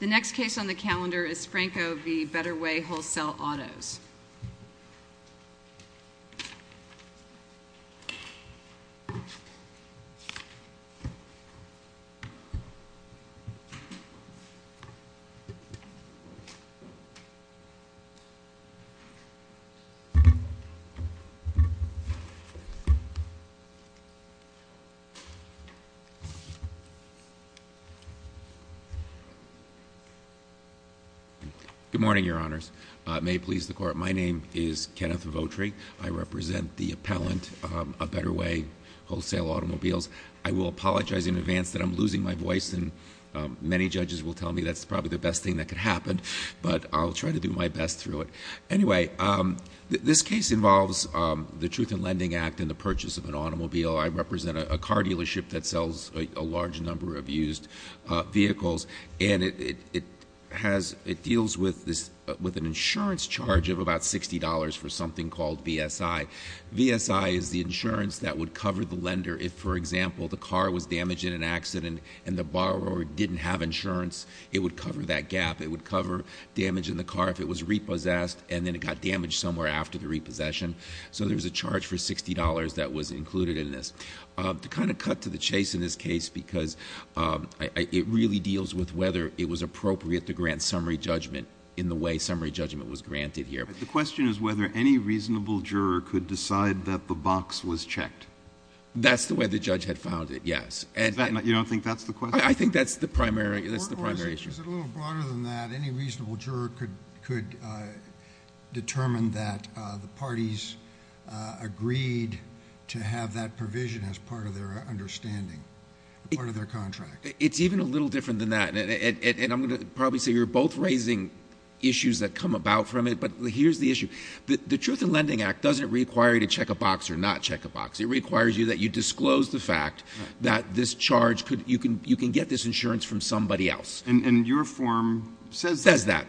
The next case on the calendar is Franco v. Better Way Wholesale Autos. Good morning, your honors. May it please the court, my name is Kenneth Votri. I represent the appellant, A Better Way Wholesale Automobiles. I will apologize in advance that I'm losing my voice and many judges will tell me that's probably the best thing that could happen. But I'll try to do my best through it. Anyway, this case involves the Truth in Lending Act and the purchase of an automobile. I represent a car dealership that sells a large number of used vehicles. And it deals with an insurance charge of about $60 for something called VSI. VSI is the insurance that would cover the lender if, for example, the car was damaged in an accident and the borrower didn't have insurance, it would cover that gap. It would cover damage in the car if it was repossessed and then it got damaged somewhere after the repossession. So there's a charge for $60 that was included in this. To kind of cut to the chase in this case because it really deals with whether it was appropriate to grant summary judgment in the way summary judgment was granted here. The question is whether any reasonable juror could decide that the box was checked. That's the way the judge had found it, yes. You don't think that's the question? I think that's the primary, that's the primary issue. Is it a little broader than that? Any reasonable juror could determine that the parties agreed to have that provision as part of their understanding, part of their contract. It's even a little different than that. And I'm going to probably say you're both raising issues that come about from it, but here's the issue. The Truth in Lending Act doesn't require you to check a box or not check a box. It requires you that you disclose the fact that this charge, you can get this insurance from somebody else. And your form says that. Says that.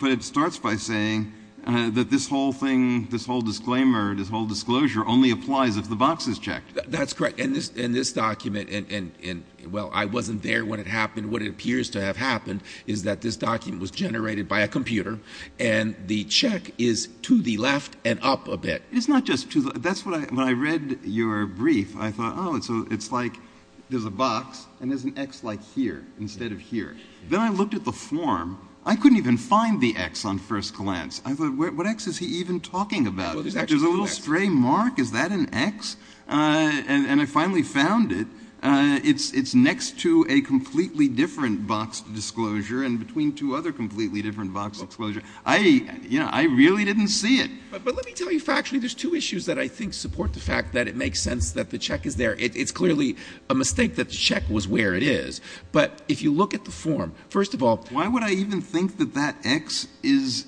But it starts by saying that this whole thing, this whole disclaimer, this whole disclosure only applies if the box is checked. That's correct. And this document, and well, I wasn't there when it happened. What it appears to have happened is that this document was generated by a computer and the check is to the left and up a bit. It's not just to the, that's what I, when I read your brief, I thought, oh, it's like there's a box and there's an X like here instead of here. Then I looked at the form. I couldn't even find the X on first glance. I thought, what X is he even talking about? There's a little stray mark. Is that an X? And I finally found it. It's next to a completely different boxed disclosure and between two other completely different boxed disclosures. I really didn't see it. But let me tell you factually, there's two issues that I think support the fact that it makes sense that the check is there. It's clearly a mistake that the check was where it is. But if you look at the form, first of all- Why would I even think that that X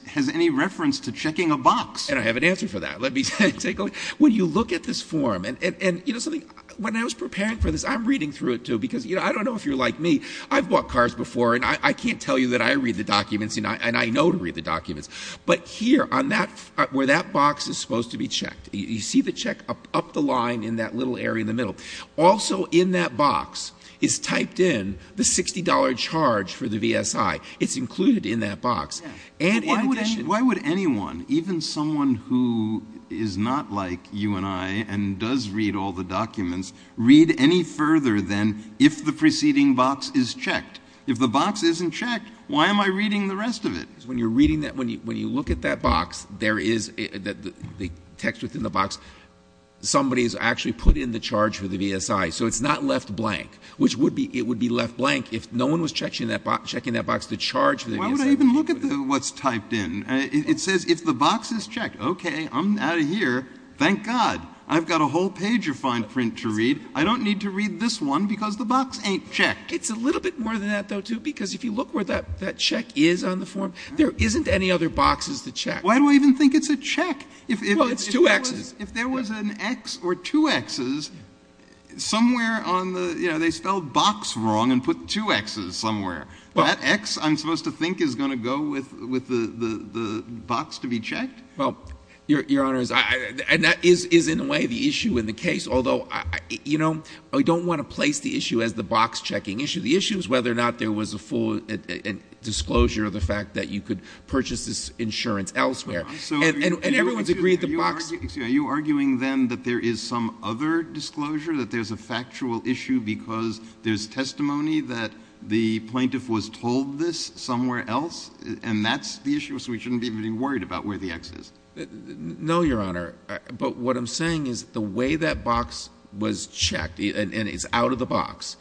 has any reference to checking a box? And I have an answer for that. Let me take a look. When you look at this form, and you know something, when I was preparing for this, I'm reading through it too because I don't know if you're like me. I've bought cars before and I can't tell you that I read the documents and I know to read the documents. But here on that, where that box is supposed to be checked. You see the check up the line in that little area in the middle. Also in that box is typed in the $60 charge for the VSI. It's included in that box. And in addition- Why would anyone, even someone who is not like you and I and does read all the documents, read any further than if the preceding box is checked? If the box isn't checked, why am I reading the rest of it? Because when you're reading that, when you look at that box, there is, the text within the box. Somebody's actually put in the charge for the VSI, so it's not left blank. Which would be, it would be left blank if no one was checking that box to charge for the VSI. Why would I even look at what's typed in? It says if the box is checked, okay, I'm out of here. Thank God, I've got a whole page of fine print to read. I don't need to read this one because the box ain't checked. It's a little bit more than that though, too, because if you look where that check is on the form, there isn't any other boxes to check. Why do I even think it's a check? Well, it's two Xs. If there was an X or two Xs, somewhere on the, you know, they spelled box wrong and put two Xs somewhere. That X, I'm supposed to think, is going to go with the box to be checked? Well, Your Honor, and that is in a way the issue in the case. Although, you know, I don't want to place the issue as the box checking issue. The issue is whether or not there was a full disclosure of the fact that you could purchase this insurance elsewhere. And everyone's agreed the box- Are you arguing then that there is some other disclosure? That there's a factual issue because there's testimony that the plaintiff was told this somewhere else? And that's the issue, so we shouldn't be even worried about where the X is. No, Your Honor, but what I'm saying is the way that box was checked, and it's out of the box,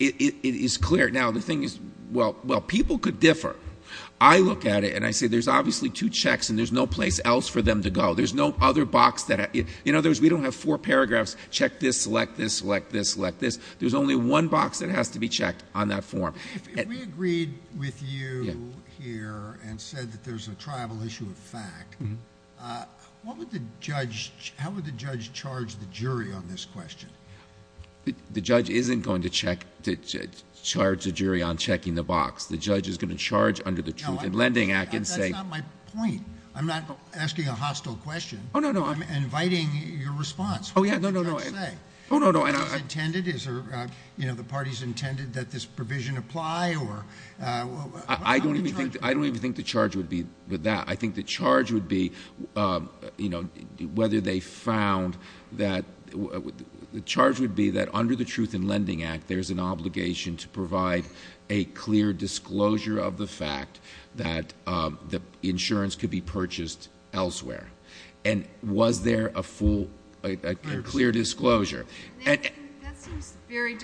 it is clear. Now, the thing is, well, people could differ. I look at it and I say there's obviously two checks and there's no place else for them to go. There's no other box that, in other words, we don't have four paragraphs, check this, select this, select this, select this. There's only one box that has to be checked on that form. We agreed with you here and said that there's a tribal issue of fact. How would the judge charge the jury on this question? The judge isn't going to charge the jury on checking the box. The judge is going to charge under the Truth in Lending Act and say- That's not my point. I'm not asking a hostile question. No, no, no. I'm inviting your response. Yeah, no, no, no. No, no, no, and I- Is it intended, is the parties intended that this provision apply or how would the charge be? I don't even think the charge would be with that. I think the charge would be whether they found that, the charge would be that under the Truth in Lending Act, there's an obligation to provide a clear disclosure of the fact that the insurance could be purchased elsewhere. And was there a full, a clear disclosure? And- That seems very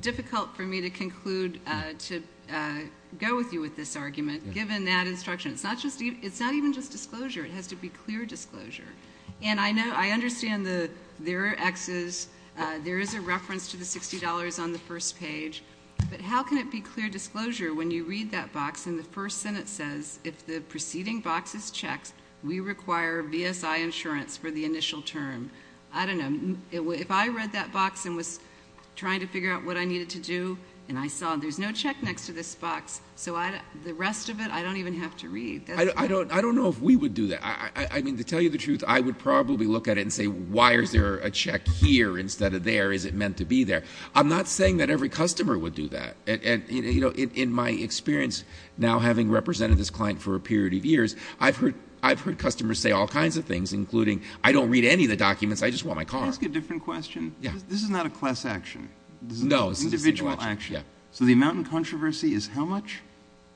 difficult for me to conclude, to go with you with this argument, given that instruction. It's not even just disclosure, it has to be clear disclosure. And I understand there are X's, there is a reference to the $60 on the first page. But how can it be clear disclosure when you read that box and the first sentence says, if the preceding box is checked, we require BSI insurance for the initial term. I don't know, if I read that box and was trying to figure out what I needed to do, and I saw there's no check next to this box, so the rest of it, I don't even have to read. I don't know if we would do that. I mean, to tell you the truth, I would probably look at it and say, why is there a check here instead of there? Is it meant to be there? I'm not saying that every customer would do that. And in my experience, now having represented this client for a period of years, I've heard customers say all kinds of things, including, I don't read any of the documents, I just want my car. Can I ask a different question? Yeah. This is not a class action. No, it's a- Individual action. Yeah. So the amount in controversy is how much?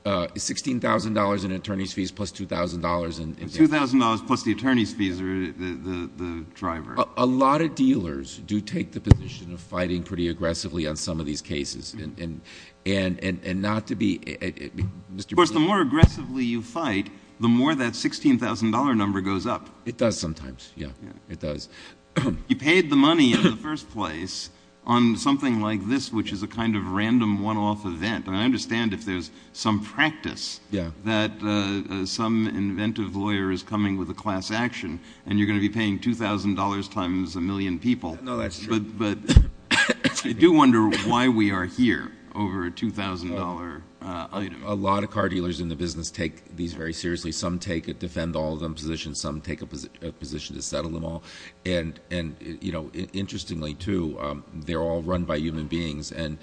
It's $16,000 in attorney's fees plus $2,000 in- $2,000 plus the attorney's fees, or the driver. A lot of dealers do take the position of fighting pretty aggressively on some of these cases. And not to be, Mr. Of course, the more aggressively you fight, the more that $16,000 number goes up. It does sometimes, yeah. It does. You paid the money in the first place on something like this, which is a kind of random one-off event. And I understand if there's some practice that some inventive lawyer is coming with a class action. And you're going to be paying $2,000 times a million people. No, that's true. But I do wonder why we are here over a $2,000 item. A lot of car dealers in the business take these very seriously. Some take a defend all of them position. Some take a position to settle them all. And interestingly too, they're all run by human beings. And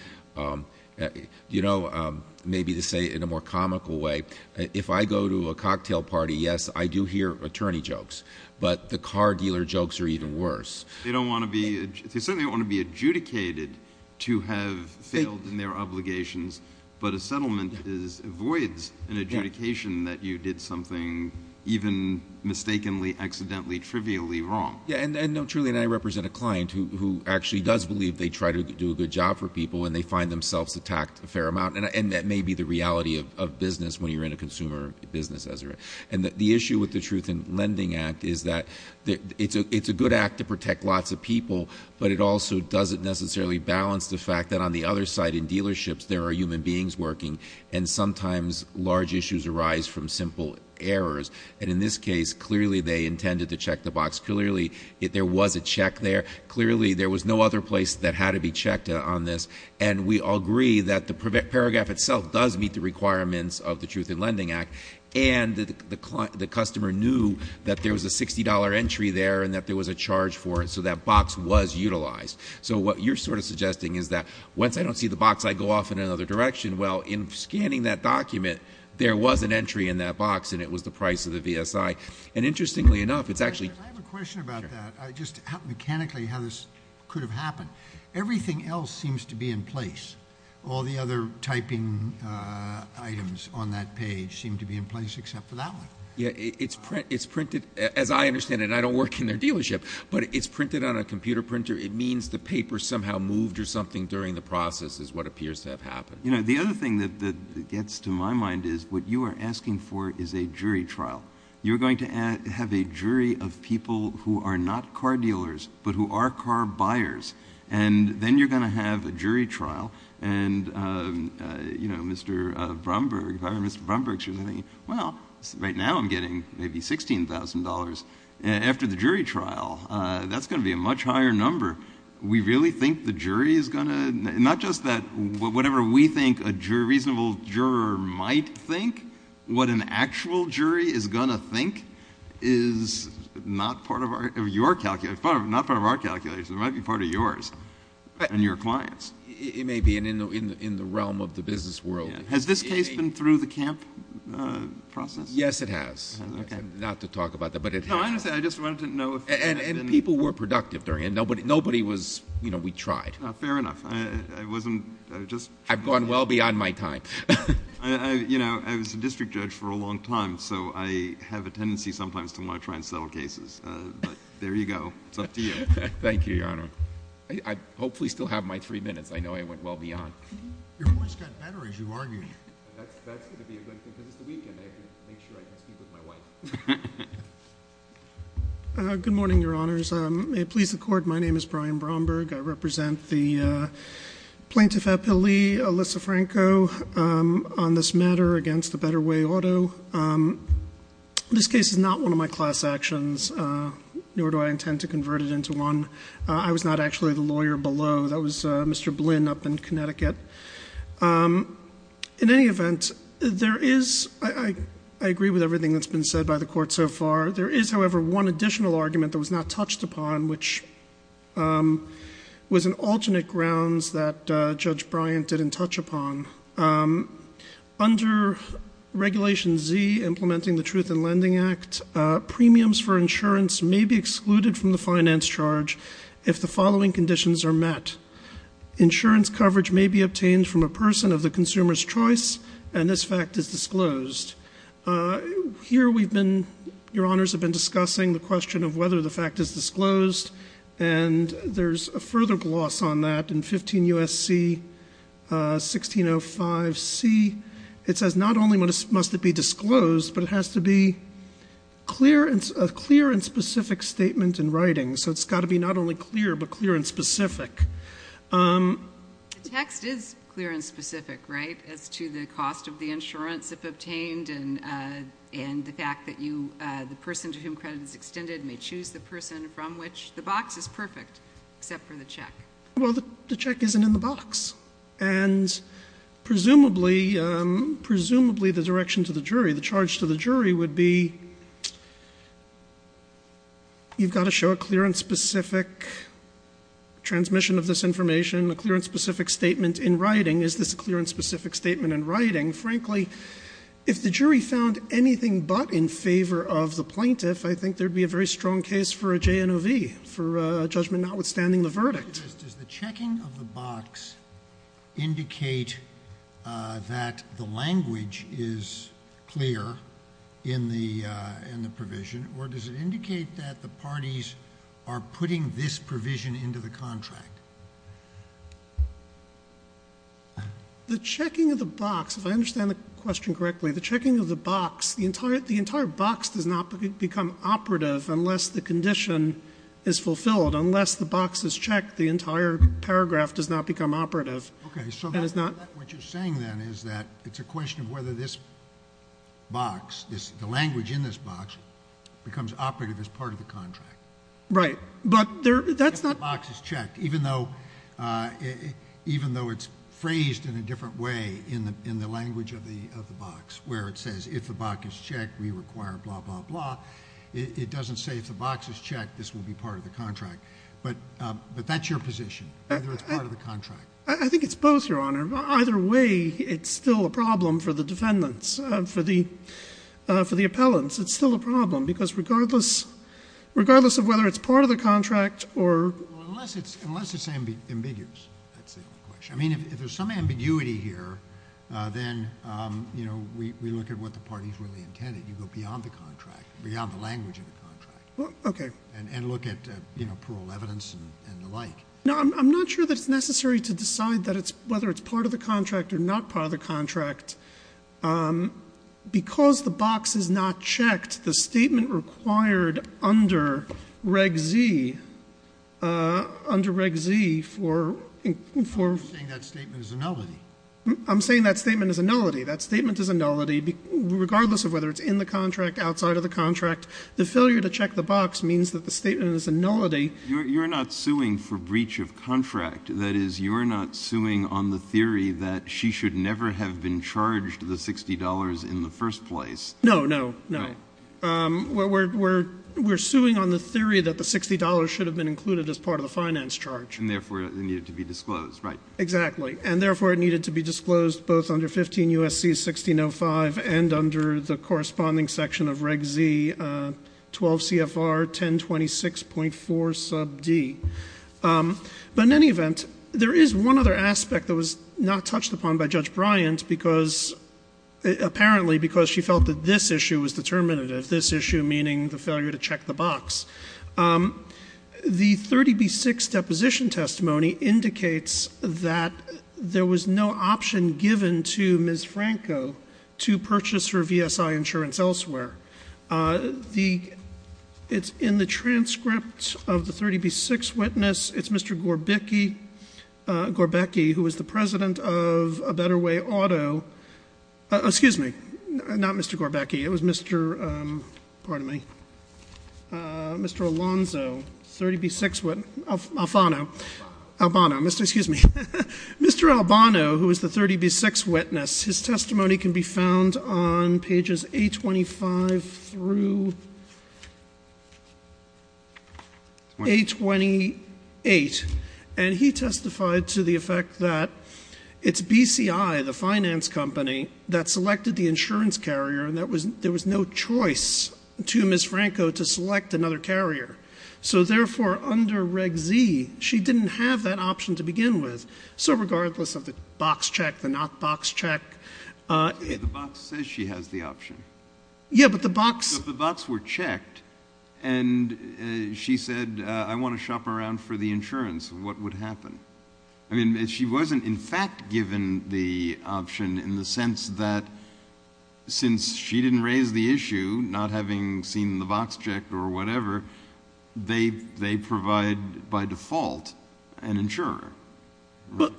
maybe to say it in a more comical way, if I go to a cocktail party, yes, I do hear attorney jokes. But the car dealer jokes are even worse. They don't want to be, they certainly don't want to be adjudicated to have failed in their obligations. But a settlement avoids an adjudication that you did something even mistakenly, accidentally, trivially wrong. Yeah, and no, truly, and I represent a client who actually does believe they try to do a good job for people and they find themselves attacked a fair amount. And that may be the reality of business when you're in a consumer business. And the issue with the Truth in Lending Act is that it's a good act to protect lots of people, but it also doesn't necessarily balance the fact that on the other side in dealerships there are human beings working. And sometimes large issues arise from simple errors. And in this case, clearly they intended to check the box. Clearly, there was a check there. Clearly, there was no other place that had to be checked on this. And we all agree that the paragraph itself does meet the requirements of the Truth in Lending Act. And the customer knew that there was a $60 entry there and that there was a charge for it, so that box was utilized. So what you're sort of suggesting is that once I don't see the box, I go off in another direction. Well, in scanning that document, there was an entry in that box and it was the price of the VSI. And interestingly enough, it's actually- I have a question about that, just mechanically how this could have happened. Everything else seems to be in place. All the other typing items on that page seem to be in place except for that one. Yeah, it's printed, as I understand it, and I don't work in their dealership, but it's printed on a computer printer. It means the paper somehow moved or something during the process is what appears to have happened. The other thing that gets to my mind is what you are asking for is a jury trial. You're going to have a jury of people who are not car dealers, but who are car buyers. And then you're going to have a jury trial. And Mr. Bromberg, if I were Mr. Bromberg, she was thinking, well, right now I'm getting maybe $16,000. After the jury trial, that's going to be a much higher number. We really think the jury is going to- going to think is not part of our calculation, it might be part of yours and your clients. It may be in the realm of the business world. Has this case been through the camp process? Yes, it has. Not to talk about that, but it has. No, I understand, I just wanted to know if- And people were productive during it. Nobody was, you know, we tried. Fair enough. I wasn't, I just- I've gone well beyond my time. I, you know, I was a district judge for a long time, so I have a tendency sometimes to want to try and settle cases. But there you go. It's up to you. Thank you, Your Honor. I hopefully still have my three minutes. I know I went well beyond. Your voice got better as you argued. That's going to be a good thing because it's the weekend. I can make sure I can speak with my wife. Good morning, Your Honors. May it please the court, my name is Brian Bromberg. I represent the Plaintiff Appellee, Alyssa Franco, on this matter against the Better Way Auto. This case is not one of my class actions, nor do I intend to convert it into one. I was not actually the lawyer below. That was Mr. Blinn up in Connecticut. In any event, there is, I agree with everything that's been said by the court so far. There is, however, one additional argument that was not touched upon, which was an alternate grounds that Judge Bryant didn't touch upon. Under Regulation Z, implementing the Truth in Lending Act, premiums for insurance may be excluded from the finance charge if the following conditions are met. Insurance coverage may be obtained from a person of the consumer's choice, and this fact is disclosed. Here we've been, Your Honors, have been discussing the question of whether the fact is disclosed. And there's a further gloss on that in 15 U.S.C. 1605C, it says not only must it be disclosed, but it has to be a clear and specific statement in writing. So it's got to be not only clear, but clear and specific. The text is clear and specific, right, as to the cost of the insurance if obtained and the fact that the person to whom credit is extended may choose the person from which. The box is perfect, except for the check. Well, the check isn't in the box. And presumably, the direction to the jury, the charge to the jury would be, you've got to show a clear and specific transmission of this information, a clear and specific statement in writing. Is this a clear and specific statement in writing? Frankly, if the jury found anything but in favor of the plaintiff, I think there'd be a very strong case for a JNOV, for a judgment notwithstanding the verdict. Does the checking of the box indicate that the language is clear in the provision, or does it indicate that the parties are putting this provision into the contract? The checking of the box, if I understand the question correctly, the checking of the box, the entire box does not become operative unless the condition is fulfilled. Unless the box is checked, the entire paragraph does not become operative. And it's not- What you're saying then is that it's a question of whether this box, the language in this box, becomes operative as part of the contract. Right, but that's not- If the box is checked, even though it's phrased in a different way in the language of the box, where it says if the box is checked, we require blah, blah, blah. It doesn't say if the box is checked, this will be part of the contract. But that's your position, whether it's part of the contract. I think it's both, Your Honor. Either way, it's still a problem for the defendants, for the appellants. It's still a problem, because regardless of whether it's part of the contract or- Unless it's ambiguous, that's the question. I mean, if there's some ambiguity here, then we look at what the party's really intended. You go beyond the contract, beyond the language of the contract. Okay. And look at, you know, plural evidence and the like. No, I'm not sure that it's necessary to decide whether it's part of the contract or not part of the contract. Because the box is not checked, the statement required under Reg Z, under Reg Z for- I'm just saying that statement is a nullity. I'm saying that statement is a nullity. That statement is a nullity, regardless of whether it's in the contract, outside of the contract. The failure to check the box means that the statement is a nullity. You're not suing for breach of contract. That is, you're not suing on the theory that she should never have been charged the $60 in the first place. No, no, no. We're suing on the theory that the $60 should have been included as part of the finance charge. And therefore, it needed to be disclosed, right? Exactly. And therefore, it needed to be disclosed both under 15 U.S.C. 1605 and under the corresponding section of Reg Z, 12 CFR 1026.4 sub D. But in any event, there is one other aspect that was not touched upon by Judge Bryant, because apparently, because she felt that this issue was determinative. This issue meaning the failure to check the box. The 30B6 deposition testimony indicates that there was no option given to Ms. Franco to purchase her VSI insurance elsewhere. It's in the transcript of the 30B6 witness, it's Mr. Gorbecki, who was the president of A Better Way Auto. Excuse me, not Mr. Gorbecki, it was Mr., pardon me. Mr. Alonzo, 30B6 witness, Alfano. Albano, excuse me. Mr. Albano, who is the 30B6 witness, his testimony can be found on pages 825 through 828. And he testified to the effect that it's BCI, the finance company, that selected the insurance carrier. And there was no choice to Ms. Franco to select another carrier. So therefore, under Reg Z, she didn't have that option to begin with. So regardless of the box check, the not box check. The box says she has the option. Yeah, but the box. But the box were checked, and she said, I want to shop around for the insurance, what would happen? I mean, she wasn't in fact given the option in the sense that since she didn't raise the issue, not having seen the box checked or whatever, they provide by default an insurer. But,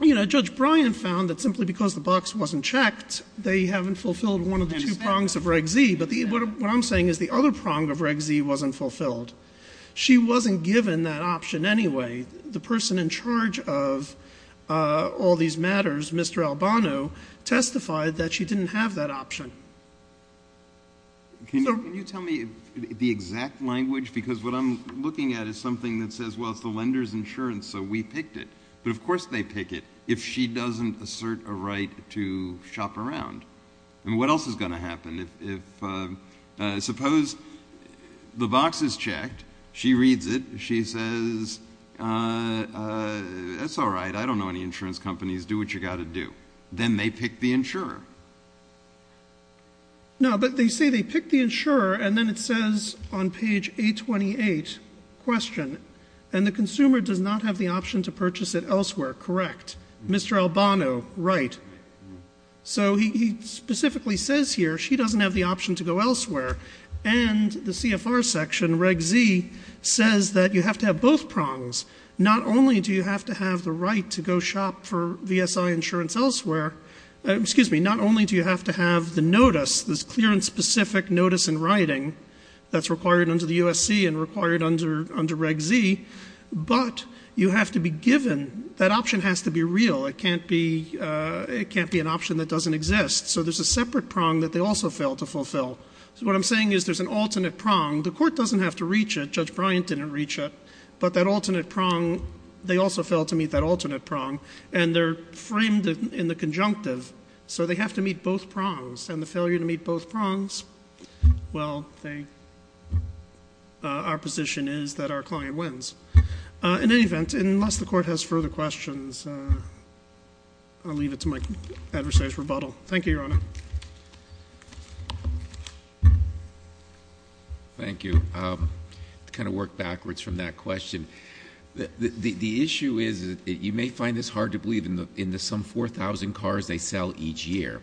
you know, Judge Bryan found that simply because the box wasn't checked, they haven't fulfilled one of the two prongs of Reg Z. But what I'm saying is the other prong of Reg Z wasn't fulfilled. She wasn't given that option anyway. The person in charge of all these matters, Mr. Albano, testified that she didn't have that option. Can you tell me the exact language? Because what I'm looking at is something that says, well, it's the lender's insurance, so we picked it. But of course they pick it if she doesn't assert a right to shop around. And what else is going to happen if, suppose the box is checked, she reads it, she says, that's all right, I don't know any insurance companies, do what you got to do. Then they pick the insurer. No, but they say they pick the insurer and then it says on page 828, question, and the consumer does not have the option to purchase it elsewhere, correct? Mr. Albano, right. So he specifically says here, she doesn't have the option to go elsewhere. And the CFR section, Reg Z, says that you have to have both prongs. Not only do you have to have the right to go shop for VSI insurance elsewhere, excuse me, not only do you have to have the notice, this clearance specific notice in writing, that's required under the USC and required under Reg Z, but you have to be given, that option has to be real. It can't be an option that doesn't exist. So there's a separate prong that they also fail to fulfill. What I'm saying is there's an alternate prong. The court doesn't have to reach it, Judge Bryant didn't reach it. But that alternate prong, they also fail to meet that alternate prong. And they're framed in the conjunctive, so they have to meet both prongs. And the failure to meet both prongs, well, our position is that our client wins. In any event, unless the court has further questions, I'll leave it to my adversary's rebuttal. Thank you, Your Honor. Thank you. To kind of work backwards from that question, the issue is, you may find this hard to believe, in the some 4,000 cars they sell each year.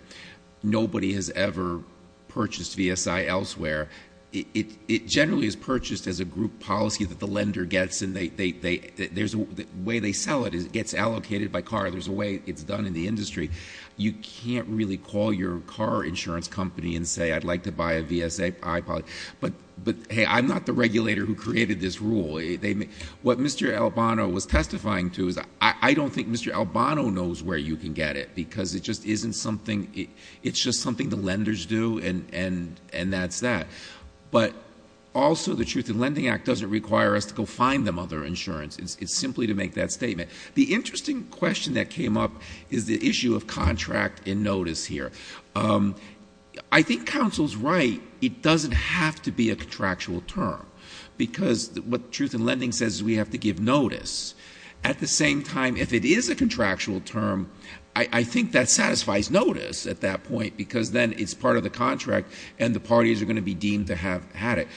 Nobody has ever purchased VSI elsewhere. It generally is purchased as a group policy that the lender gets. And the way they sell it is it gets allocated by car. There's a way it's done in the industry. You can't really call your car insurance company and say, I'd like to buy a VSI. But hey, I'm not the regulator who created this rule. What Mr. Albano was testifying to is, I don't think Mr. Albano knows where you can get it. Because it just isn't something, it's just something the lenders do, and that's that. But also, the Truth in Lending Act doesn't require us to go find them other insurance, it's simply to make that statement. The interesting question that came up is the issue of contract and notice here. I think counsel's right, it doesn't have to be a contractual term. Because what truth in lending says is we have to give notice. At the same time, if it is a contractual term, I think that satisfies notice at that point. Because then it's part of the contract and the parties are going to be deemed to have had it.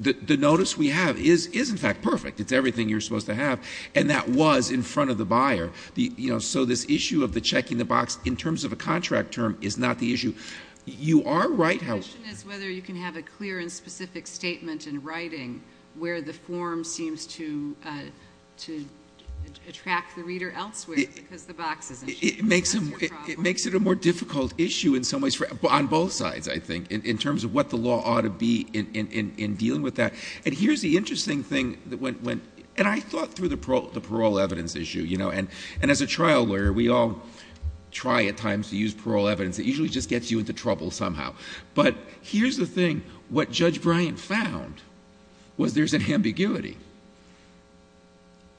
The notice we have is in fact perfect. It's everything you're supposed to have. And that was in front of the buyer. So this issue of the check in the box, in terms of a contract term, is not the issue. You are right how- The question is whether you can have a clear and specific statement in writing, where the form seems to attract the reader elsewhere, because the box isn't. It makes it a more difficult issue in some ways, on both sides, I think. In terms of what the law ought to be in dealing with that. And here's the interesting thing, and I thought through the parole evidence issue. And as a trial lawyer, we all try at times to use parole evidence. It usually just gets you into trouble somehow. But here's the thing, what Judge Bryant found was there's an ambiguity.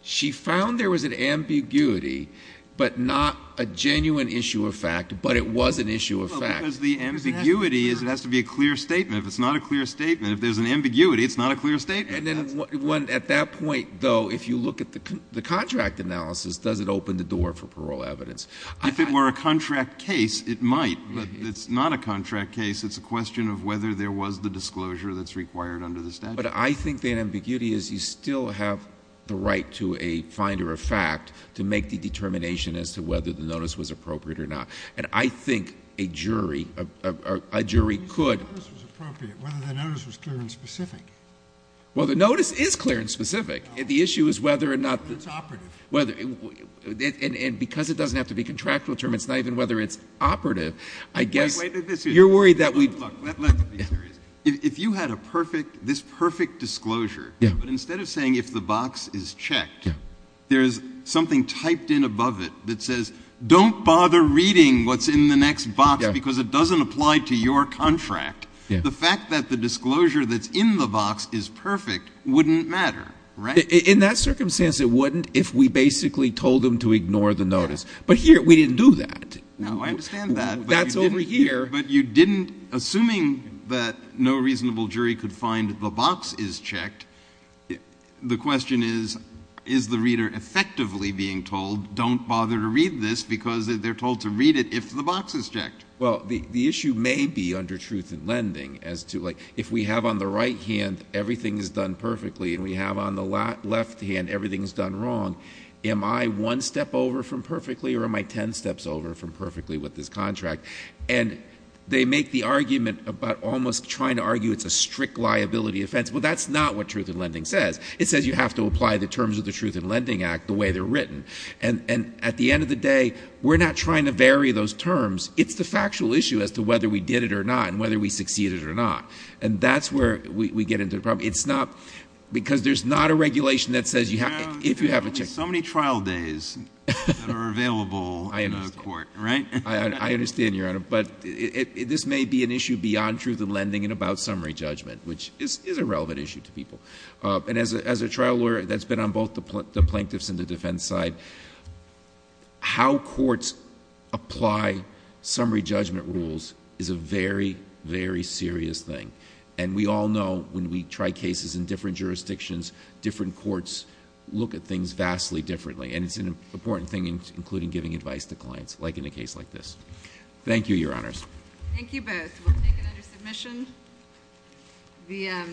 She found there was an ambiguity, but not a genuine issue of fact, but it was an issue of fact. Because the ambiguity is it has to be a clear statement. If it's not a clear statement, if there's an ambiguity, it's not a clear statement. And then at that point, though, if you look at the contract analysis, does it open the door for parole evidence? If it were a contract case, it might. It's not a contract case, it's a question of whether there was the disclosure that's required under the statute. But I think the ambiguity is you still have the right to a finder of fact to make the determination as to whether the notice was appropriate or not. And I think a jury could- Whether the notice was clear and specific. Well, the notice is clear and specific. The issue is whether or not- It's operative. Whether, and because it doesn't have to be contractual, it determines not even whether it's operative. I guess- Wait, wait, this is- You're worried that we- Look, let's be serious. If you had a perfect, this perfect disclosure, but instead of saying if the box is checked, there's something typed in above it that says don't bother reading what's in the next box because it doesn't apply to your contract. The fact that the disclosure that's in the box is perfect wouldn't matter, right? In that circumstance, it wouldn't if we basically told them to ignore the notice. But here, we didn't do that. No, I understand that. That's over here. But you didn't, assuming that no reasonable jury could find the box is checked, the question is, is the reader effectively being told don't bother to read this because they're told to read it if the box is checked? Well, the issue may be under truth in lending as to like, if we have on the right hand, everything is done perfectly, and we have on the left hand, everything is done wrong. Am I one step over from perfectly, or am I ten steps over from perfectly with this contract? And they make the argument about almost trying to argue it's a strict liability offense. Well, that's not what truth in lending says. It says you have to apply the terms of the Truth in Lending Act the way they're written. And at the end of the day, we're not trying to vary those terms. It's the factual issue as to whether we did it or not, and whether we succeeded or not. And that's where we get into the problem. It's not, because there's not a regulation that says you have, if you have a check. So many trial days that are available in the court, right? I understand, Your Honor, but this may be an issue beyond truth in lending and about summary judgment, which is a relevant issue to people. And as a trial lawyer, that's been on both the plaintiffs and the defense side. How courts apply summary judgment rules is a very, very serious thing. And we all know when we try cases in different jurisdictions, different courts look at things vastly differently. And it's an important thing, including giving advice to clients, like in a case like this. Thank you, Your Honors. Thank you both. We'll take it under submission.